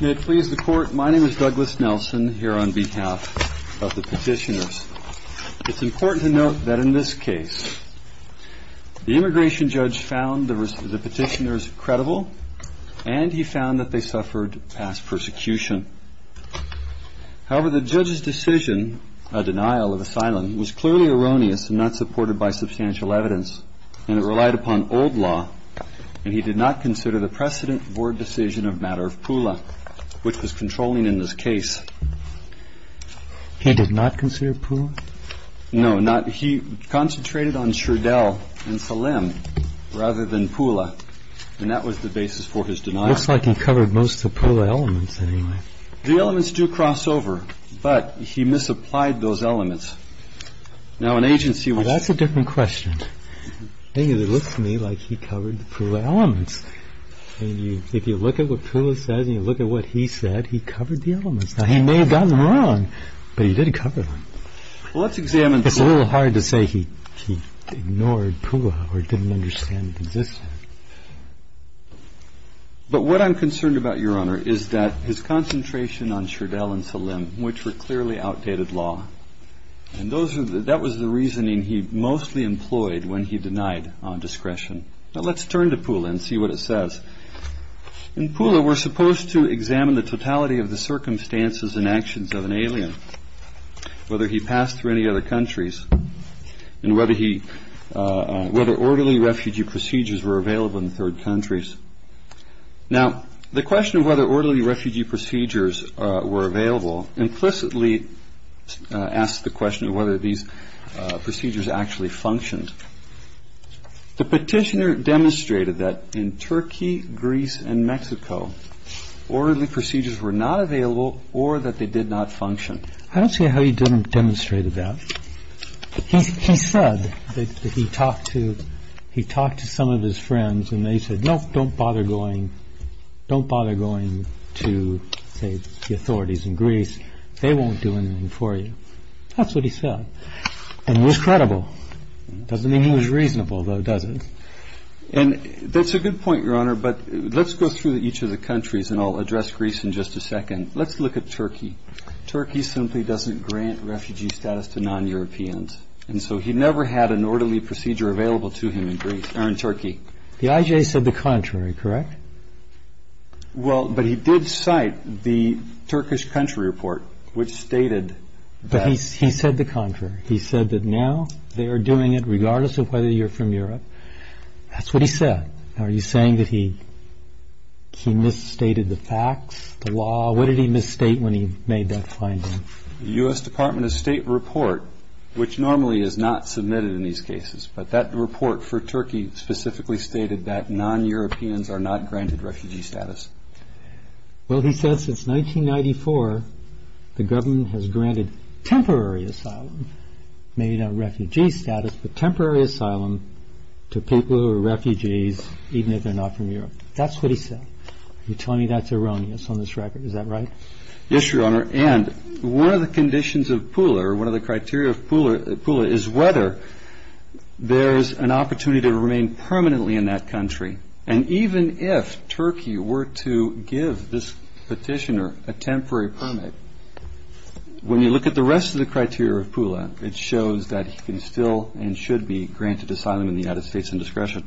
May it please the Court, my name is Douglas Nelson, here on behalf of the Petitioners. It's important to note that in this case, the immigration judge found the Petitioners credible, and he found that they suffered past persecution. However, the judge's decision, a denial of asylum, was clearly erroneous and not supported by substantial evidence, and it relied upon old law, and he did not consider the precedent for a decision of matter of Pula, which was controlling in this case. He did not consider Pula? No, he concentrated on Schradell and Salem rather than Pula, and that was the basis for his denial. It looks like he covered most of the Pula elements anyway. The elements do cross over, but he misapplied those elements. That's a different question. It looks to me like he covered the Pula elements. If you look at what Pula says and you look at what he said, he covered the elements. Now, he may have gotten them wrong, but he did cover them. It's a little hard to say he ignored Pula or didn't understand the precedent. But what I'm concerned about, Your Honor, is that his concentration on Schradell and Salem, which were clearly outdated law, and that was the reasoning he mostly employed when he denied discretion. Now, let's turn to Pula and see what it says. In Pula, we're supposed to examine the totality of the circumstances and actions of an alien, whether he passed through any other countries, and whether orderly refugee procedures were available in third countries. Now, the question of whether orderly refugee procedures were available implicitly asks the question of whether these procedures actually functioned. The petitioner demonstrated that in Turkey, Greece, and Mexico, orderly procedures were not available or that they did not function. I don't see how he demonstrated that. He said that he talked to some of his friends, and they said, no, don't bother going to, say, the authorities in Greece. They won't do anything for you. That's what he said, and it was credible. It doesn't mean he was reasonable, though, does it? And that's a good point, Your Honor, but let's go through each of the countries, and I'll address Greece in just a second. Let's look at Turkey. Turkey simply doesn't grant refugee status to non-Europeans, and so he never had an orderly procedure available to him in Turkey. The IJ said the contrary, correct? Well, but he did cite the Turkish country report, which stated that. But he said the contrary. He said that now they are doing it regardless of whether you're from Europe. That's what he said. Are you saying that he misstated the facts, the law? What did he misstate when he made that finding? The U.S. Department of State report, which normally is not submitted in these cases, but that report for Turkey specifically stated that non-Europeans are not granted refugee status. Well, he said since 1994 the government has granted temporary asylum, maybe not refugee status, but temporary asylum to people who are refugees, even if they're not from Europe. That's what he said. You're telling me that's erroneous on this record. Is that right? Yes, Your Honor. And one of the conditions of Pula, or one of the criteria of Pula, is whether there's an opportunity to remain permanently in that country. And even if Turkey were to give this petitioner a temporary permit, when you look at the rest of the criteria of Pula, it shows that he can still and should be granted asylum in the United States in discretion.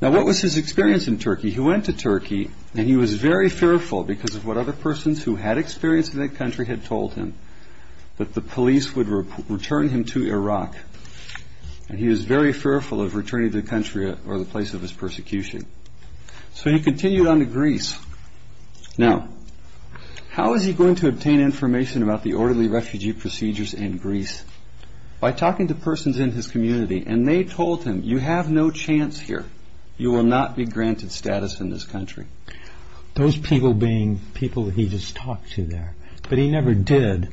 Now, what was his experience in Turkey? He went to Turkey, and he was very fearful because of what other persons who had experience in that country had told him, that the police would return him to Iraq. And he was very fearful of returning to the country or the place of his persecution. So he continued on to Greece. Now, how is he going to obtain information about the orderly refugee procedures in Greece? By talking to persons in his community. And they told him, you have no chance here. You will not be granted status in this country. Those people being people he just talked to there. But he never did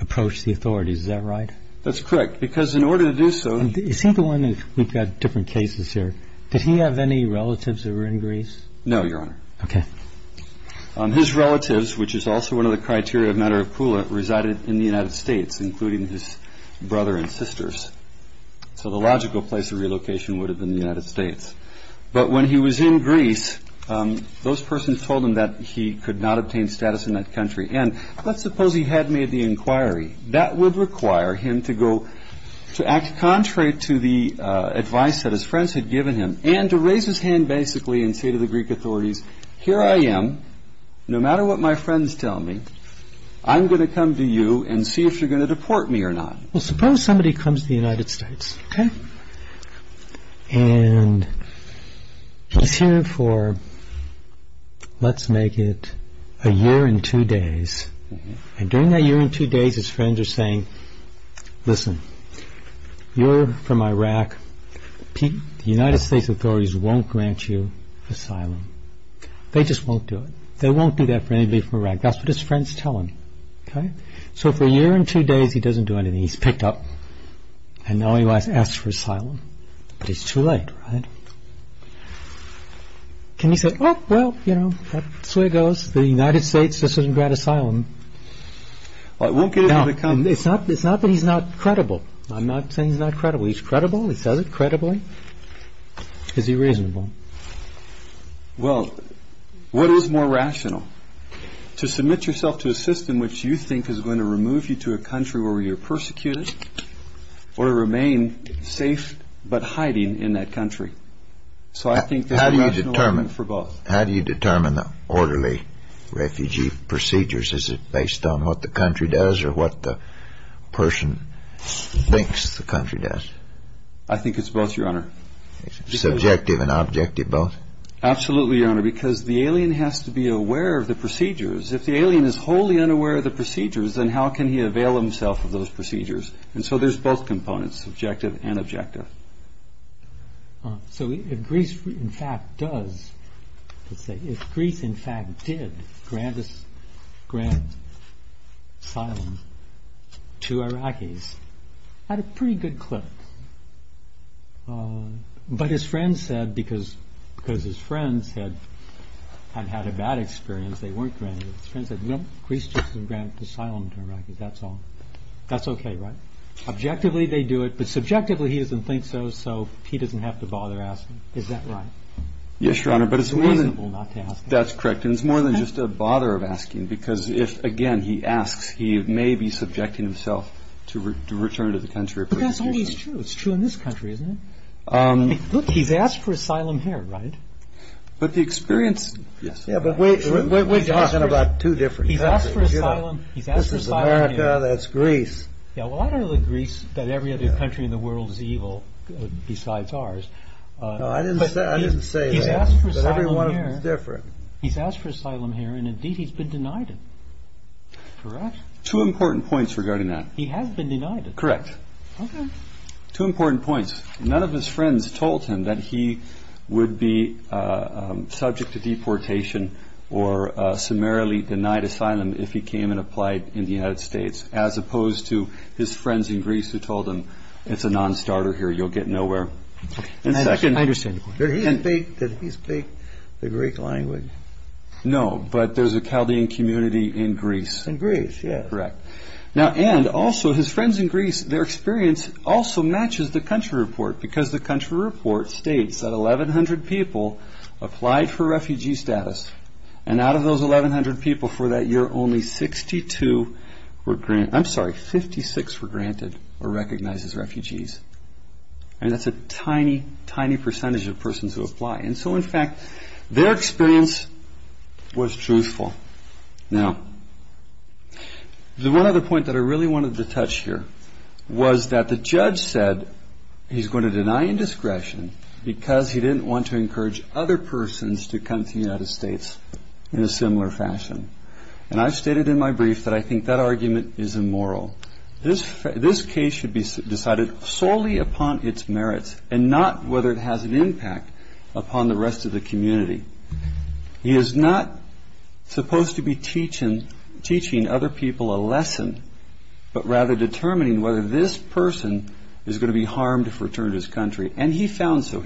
approach the authorities. Is that right? That's correct. Because in order to do so... Is he the one, we've got different cases here, did he have any relatives that were in Greece? No, Your Honor. Okay. His relatives, which is also one of the criteria of matter of Pula, resided in the United States, including his brother and sisters. So the logical place of relocation would have been the United States. But when he was in Greece, those persons told him that he could not obtain status in that country. And let's suppose he had made the inquiry. That would require him to go to act contrary to the advice that his friends had given him and to raise his hand basically and say to the Greek authorities, here I am, no matter what my friends tell me, I'm going to come to you and see if you're going to deport me or not. Well, suppose somebody comes to the United States, okay? And he's here for, let's make it a year and two days. And during that year and two days, his friends are saying, listen, you're from Iraq. The United States authorities won't grant you asylum. They just won't do it. They won't do that for anybody from Iraq. That's what his friends tell him, okay? So for a year and two days, he doesn't do anything. He's picked up. And now he wants to ask for asylum. But it's too late, right? And he says, oh, well, you know, that's the way it goes. The United States doesn't grant asylum. Now, it's not that he's not credible. I'm not saying he's not credible. He's credible. He says it credibly. Is he reasonable? Well, what is more rational, to submit yourself to a system which you think is going to remove you to a country where you're persecuted or remain safe but hiding in that country? So I think that's rational for both. How do you determine the orderly refugee procedures? Is it based on what the country does or what the person thinks the country does? I think it's both, Your Honor. Subjective and objective both? Absolutely, Your Honor, because the alien has to be aware of the procedures. If the alien is wholly unaware of the procedures, then how can he avail himself of those procedures? And so there's both components, subjective and objective. So if Greece, in fact, did grant asylum to Iraqis, I had a pretty good clip. But his friends said, because his friends had had a bad experience, they weren't granted it. His friends said, no, Greece just didn't grant asylum to Iraqis, that's all. That's okay, right? Objectively, they do it. But subjectively, he doesn't think so, so he doesn't have to bother asking. Is that right? Yes, Your Honor, but it's more than just a bother of asking, because if, again, he asks, he may be subjecting himself to return to the country. But that's always true. It's true in this country, isn't it? Look, he's asked for asylum here, right? But the experience... Yeah, but we're talking about two different countries. He's asked for asylum. This is America. That's Greece. Yeah, well, I don't agree that every other country in the world is evil, besides ours. No, I didn't say that. He's asked for asylum here. But every one of them is different. He's asked for asylum here, and indeed, he's been denied it. Correct? Two important points regarding that. He has been denied it. Correct. Okay. Two important points. None of his friends told him that he would be subject to deportation or summarily denied asylum if he came and applied in the United States, as opposed to his friends in Greece who told him, it's a non-starter here, you'll get nowhere. I understand. Did he speak the Greek language? No, but there's a Chaldean community in Greece. In Greece, yeah. Correct. Now, and also, his friends in Greece, their experience also matches the country report, because the country report states that 1,100 people applied for refugee status, and out of those 1,100 people for that year, only 62 were granted ñ I'm sorry, 56 were granted or recognized as refugees. I mean, that's a tiny, tiny percentage of persons who apply. And so, in fact, their experience was truthful. Now, the one other point that I really wanted to touch here was that the judge said he's going to deny indiscretion because he didn't want to encourage other persons to come to the United States in a similar fashion. And I've stated in my brief that I think that argument is immoral. This case should be decided solely upon its merits and not whether it has an impact upon the rest of the community. He is not supposed to be teaching other people a lesson, but rather determining whether this person is going to be harmed if returned to his country. And he found so.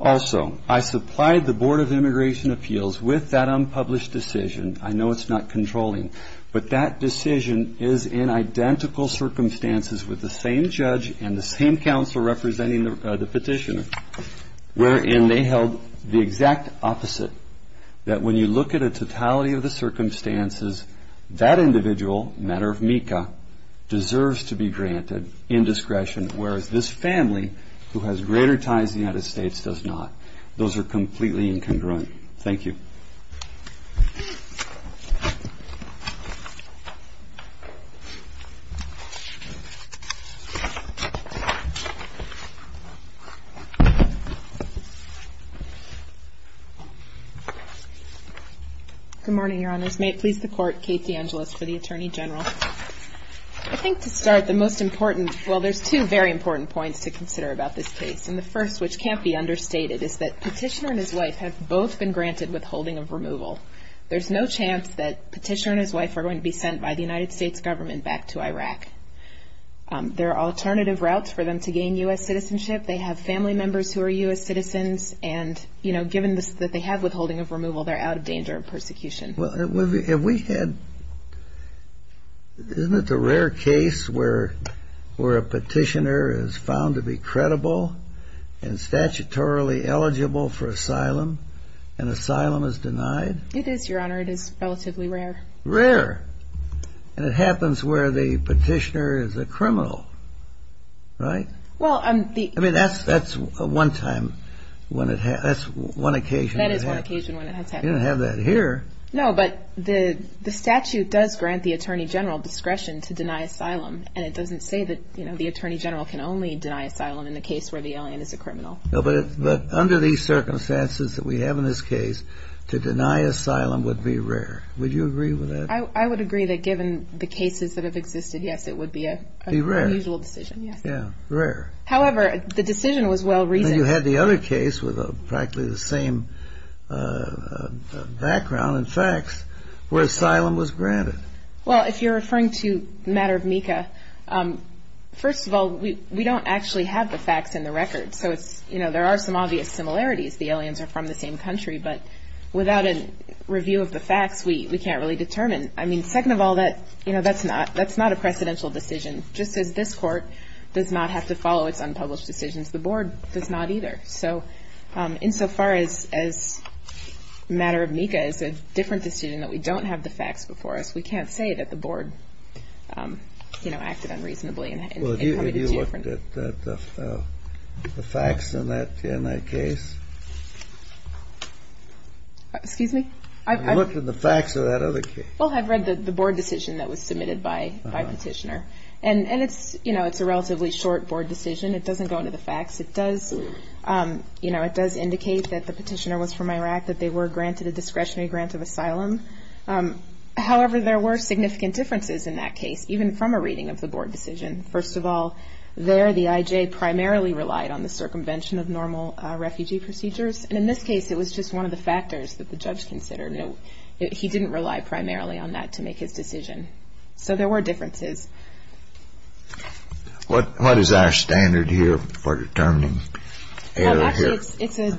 Also, I supplied the Board of Immigration Appeals with that unpublished decision. I know it's not controlling, but that decision is in identical circumstances with the same judge and the same counsel representing the petitioner, wherein they held the exact opposite, that when you look at a totality of the circumstances, that individual, a matter of MECA, deserves to be granted indiscretion, whereas this family, who has greater ties to the United States, does not. Those are completely incongruent. Thank you. Good morning, Your Honors. May it please the Court, Kate DeAngelis for the Attorney General. I think to start, the most important, well, there's two very important points to consider about this case. And the first, which can't be understated, is that Petitioner and his wife have both been granted withholding of removal. There's no chance that Petitioner and his wife are going to be sent by the United States government back to Iraq. There are alternative routes for them to gain U.S. citizenship. They have family members who are U.S. citizens, and, you know, given that they have withholding of removal, they're out of danger of persecution. Well, have we had – isn't it the rare case where a Petitioner is found to be credible and statutorily eligible for asylum, and asylum is denied? It is, Your Honor. It is relatively rare. Rare. And it happens where the Petitioner is a criminal, right? Well, the – I mean, that's one time when it – that's one occasion. That is one occasion when it has happened. You don't have that here. No, but the statute does grant the attorney general discretion to deny asylum, and it doesn't say that, you know, the attorney general can only deny asylum in the case where the alien is a criminal. No, but under these circumstances that we have in this case, to deny asylum would be rare. Would you agree with that? I would agree that given the cases that have existed, yes, it would be a unusual decision. Be rare. Yes. Yeah, rare. However, the decision was well-reasoned. And you had the other case with practically the same background and facts where asylum was granted. Well, if you're referring to the matter of MECA, first of all, we don't actually have the facts in the record, so it's – you know, there are some obvious similarities. The aliens are from the same country, but without a review of the facts, we can't really determine. I mean, second of all, that – you know, that's not – that's not a precedential decision. Just as this court does not have to follow its unpublished decisions, the board does not either. So insofar as the matter of MECA is a different decision, that we don't have the facts before us, we can't say that the board, you know, acted unreasonably. Well, have you looked at the facts in that case? Excuse me? Have you looked at the facts of that other case? Well, I've read the board decision that was submitted by petitioner. And it's – you know, it's a relatively short board decision. It doesn't go into the facts. It does – you know, it does indicate that the petitioner was from Iraq, that they were granted a discretionary grant of asylum. However, there were significant differences in that case, even from a reading of the board decision. First of all, there the IJ primarily relied on the circumvention of normal refugee procedures. And in this case, it was just one of the factors that the judge considered. He didn't rely primarily on that to make his decision. So there were differences. What is our standard here for determining error here? Well, actually,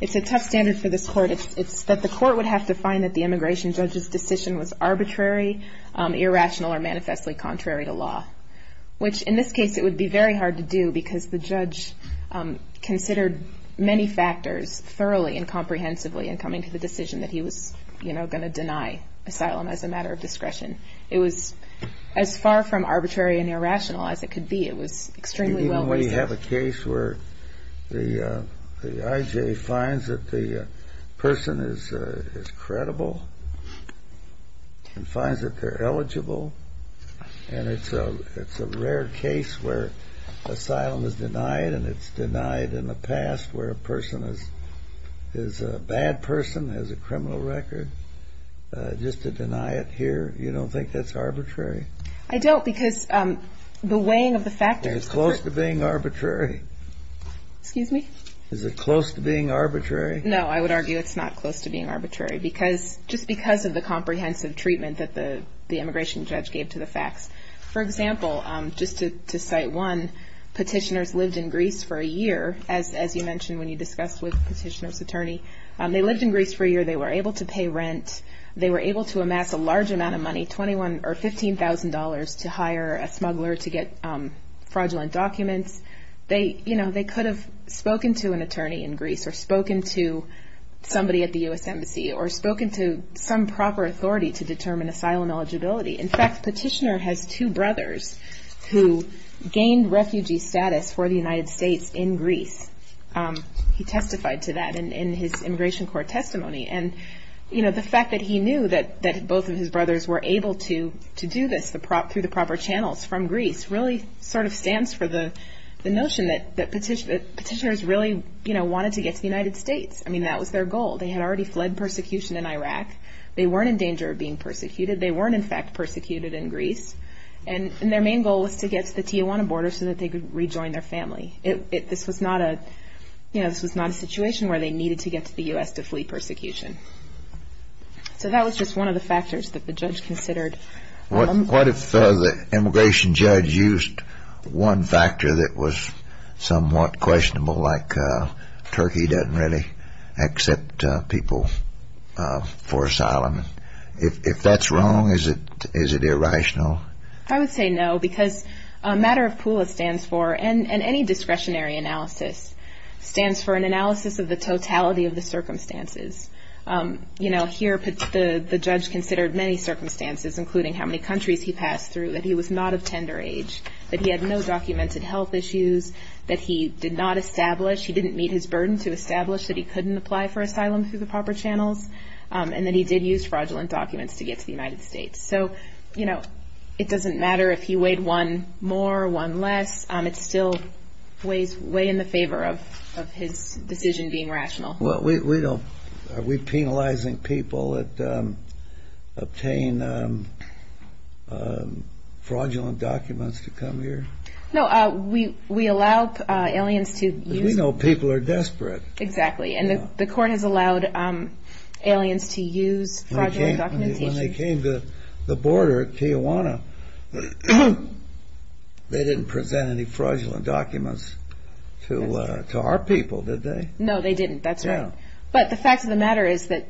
it's a tough standard for this court. It's that the court would have to find that the immigration judge's decision was arbitrary, irrational, or manifestly contrary to law. Which, in this case, it would be very hard to do because the judge considered many factors thoroughly and comprehensively in coming to the decision that he was, you know, going to deny asylum as a matter of discretion. It was as far from arbitrary and irrational as it could be. It was extremely well-reasoned. We have a case where the IJ finds that the person is credible and finds that they're eligible. And it's a rare case where asylum is denied, and it's denied in the past where a person is a bad person, has a criminal record. Just to deny it here, you don't think that's arbitrary? I don't because the weighing of the factors. Is it close to being arbitrary? Excuse me? Is it close to being arbitrary? No, I would argue it's not close to being arbitrary, just because of the comprehensive treatment that the immigration judge gave to the facts. For example, just to cite one, petitioners lived in Greece for a year, as you mentioned when you discussed with the petitioner's attorney. They lived in Greece for a year. They were able to pay rent. They were able to amass a large amount of money, $21,000 or $15,000, to hire a smuggler to get fraudulent documents. You know, they could have spoken to an attorney in Greece or spoken to somebody at the U.S. Embassy or spoken to some proper authority to determine asylum eligibility. In fact, petitioner has two brothers who gained refugee status for the United States in Greece. He testified to that in his immigration court testimony. And, you know, the fact that he knew that both of his brothers were able to do this through the proper channels from Greece really sort of stands for the notion that petitioners really, you know, wanted to get to the United States. I mean, that was their goal. They had already fled persecution in Iraq. They weren't in danger of being persecuted. They weren't, in fact, persecuted in Greece. And their main goal was to get to the Tijuana border so that they could rejoin their family. This was not a situation where they needed to get to the U.S. to flee persecution. So that was just one of the factors that the judge considered. What if the immigration judge used one factor that was somewhat questionable, like Turkey doesn't really accept people for asylum? If that's wrong, is it irrational? I would say no, because matter of PULA stands for, and any discretionary analysis, stands for an analysis of the totality of the circumstances. You know, here the judge considered many circumstances, including how many countries he passed through, that he was not of tender age, that he had no documented health issues, that he did not establish, he didn't meet his burden to establish that he couldn't apply for asylum through the proper channels, and that he did use fraudulent documents to get to the United States. So, you know, it doesn't matter if he weighed one more, one less, it's still way in the favor of his decision being rational. Are we penalizing people that obtain fraudulent documents to come here? No, we allow aliens to use... Because we know people are desperate. Exactly, and the court has allowed aliens to use fraudulent documentation. When they came to the border at Tijuana, they didn't present any fraudulent documents to our people, did they? No, they didn't, that's right. But the fact of the matter is that,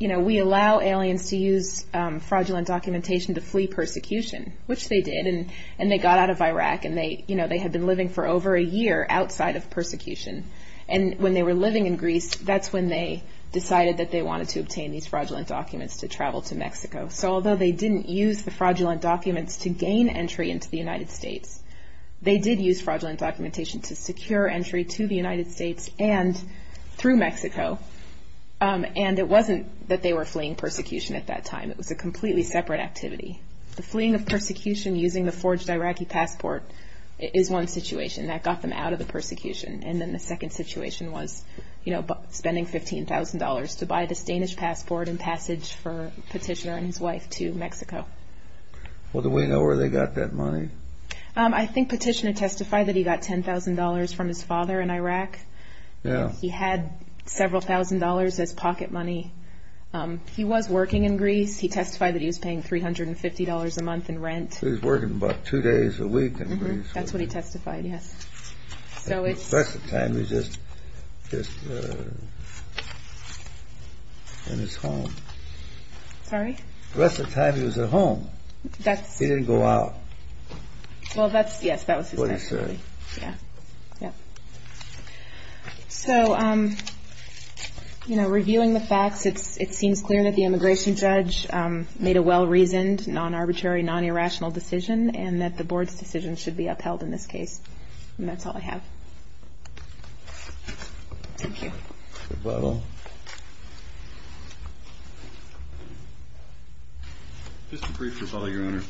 you know, we allow aliens to use fraudulent documentation to flee persecution, which they did, and they got out of Iraq, and they had been living for over a year outside of persecution. And when they were living in Greece, that's when they decided that they wanted to obtain these fraudulent documents to travel to Mexico. So although they didn't use the fraudulent documents to gain entry into the United States, they did use fraudulent documentation to secure entry to the United States and through Mexico, and it wasn't that they were fleeing persecution at that time. It was a completely separate activity. The fleeing of persecution using the forged Iraqi passport is one situation. That got them out of the persecution. And then the second situation was, you know, spending $15,000 to buy this Danish passport in passage for Petitioner and his wife to Mexico. Well, do we know where they got that money? I think Petitioner testified that he got $10,000 from his father in Iraq. He had several thousand dollars as pocket money. He was working in Greece. He testified that he was paying $350 a month in rent. He was working about two days a week in Greece. That's when he testified, yes. The rest of the time he was just in his home. Sorry? The rest of the time he was at home. He didn't go out. Well, that's, yes, that was his testimony. What he said. Yeah. So, you know, reviewing the facts, it seems clear that the immigration judge made a well-reasoned, non-arbitrary, non-irrational decision, and that the Board's decision should be upheld in this case. And that's all I have. Thank you. Mr. Butler. Mr. Priest, your Honor.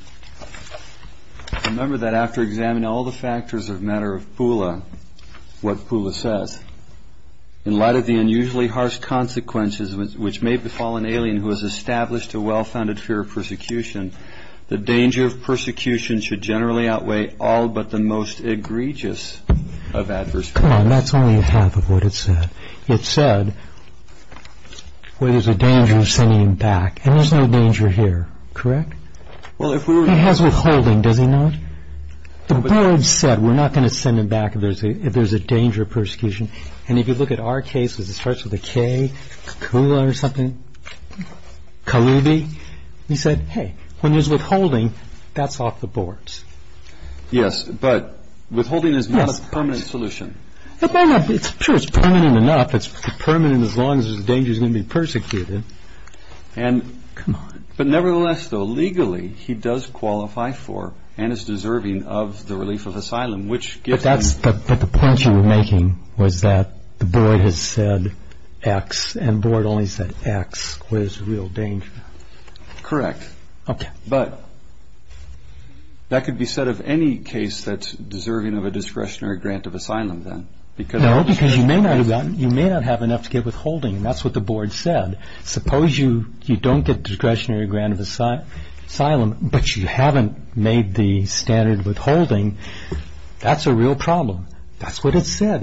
Remember that after examining all the factors of the matter of Pula, what Pula says, in light of the unusually harsh consequences which may befall an alien who has established a well-founded fear of persecution, the danger of persecution should generally outweigh all but the most egregious of adverse consequences. Come on. That's only half of what it said. It said, well, there's a danger of sending him back. And there's no danger here. Correct? Well, if we were to... He has withholding, does he not? The Board said we're not going to send him back if there's a danger of persecution. And if you look at our case, it starts with a K, Kula or something, Kalubi. We said, hey, when there's withholding, that's off the boards. Yes, but withholding is not a permanent solution. It's permanent enough. It's permanent as long as there's a danger he's going to be persecuted. Come on. But nevertheless, though, legally, he does qualify for and is deserving of the relief of asylum, which gives him... But the point you were making was that the Board has said X, and the Board only said X, where there's real danger. Correct. Okay. But that could be said of any case that's deserving of a discretionary grant of asylum, then. No, because you may not have enough to get withholding, and that's what the Board said. Suppose you don't get a discretionary grant of asylum, but you haven't made the standard withholding. That's a real problem. That's what it said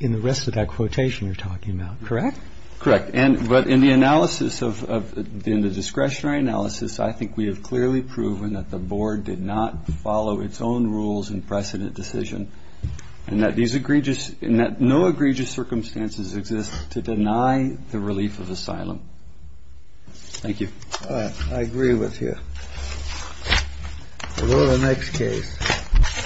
in the rest of that quotation you're talking about. Correct? Correct. But in the discretionary analysis, I think we have clearly proven that the Board did not follow its own rules and precedent decision, and that no egregious circumstances exist to deny the relief of asylum. Thank you. All right. I agree with you. To the next case.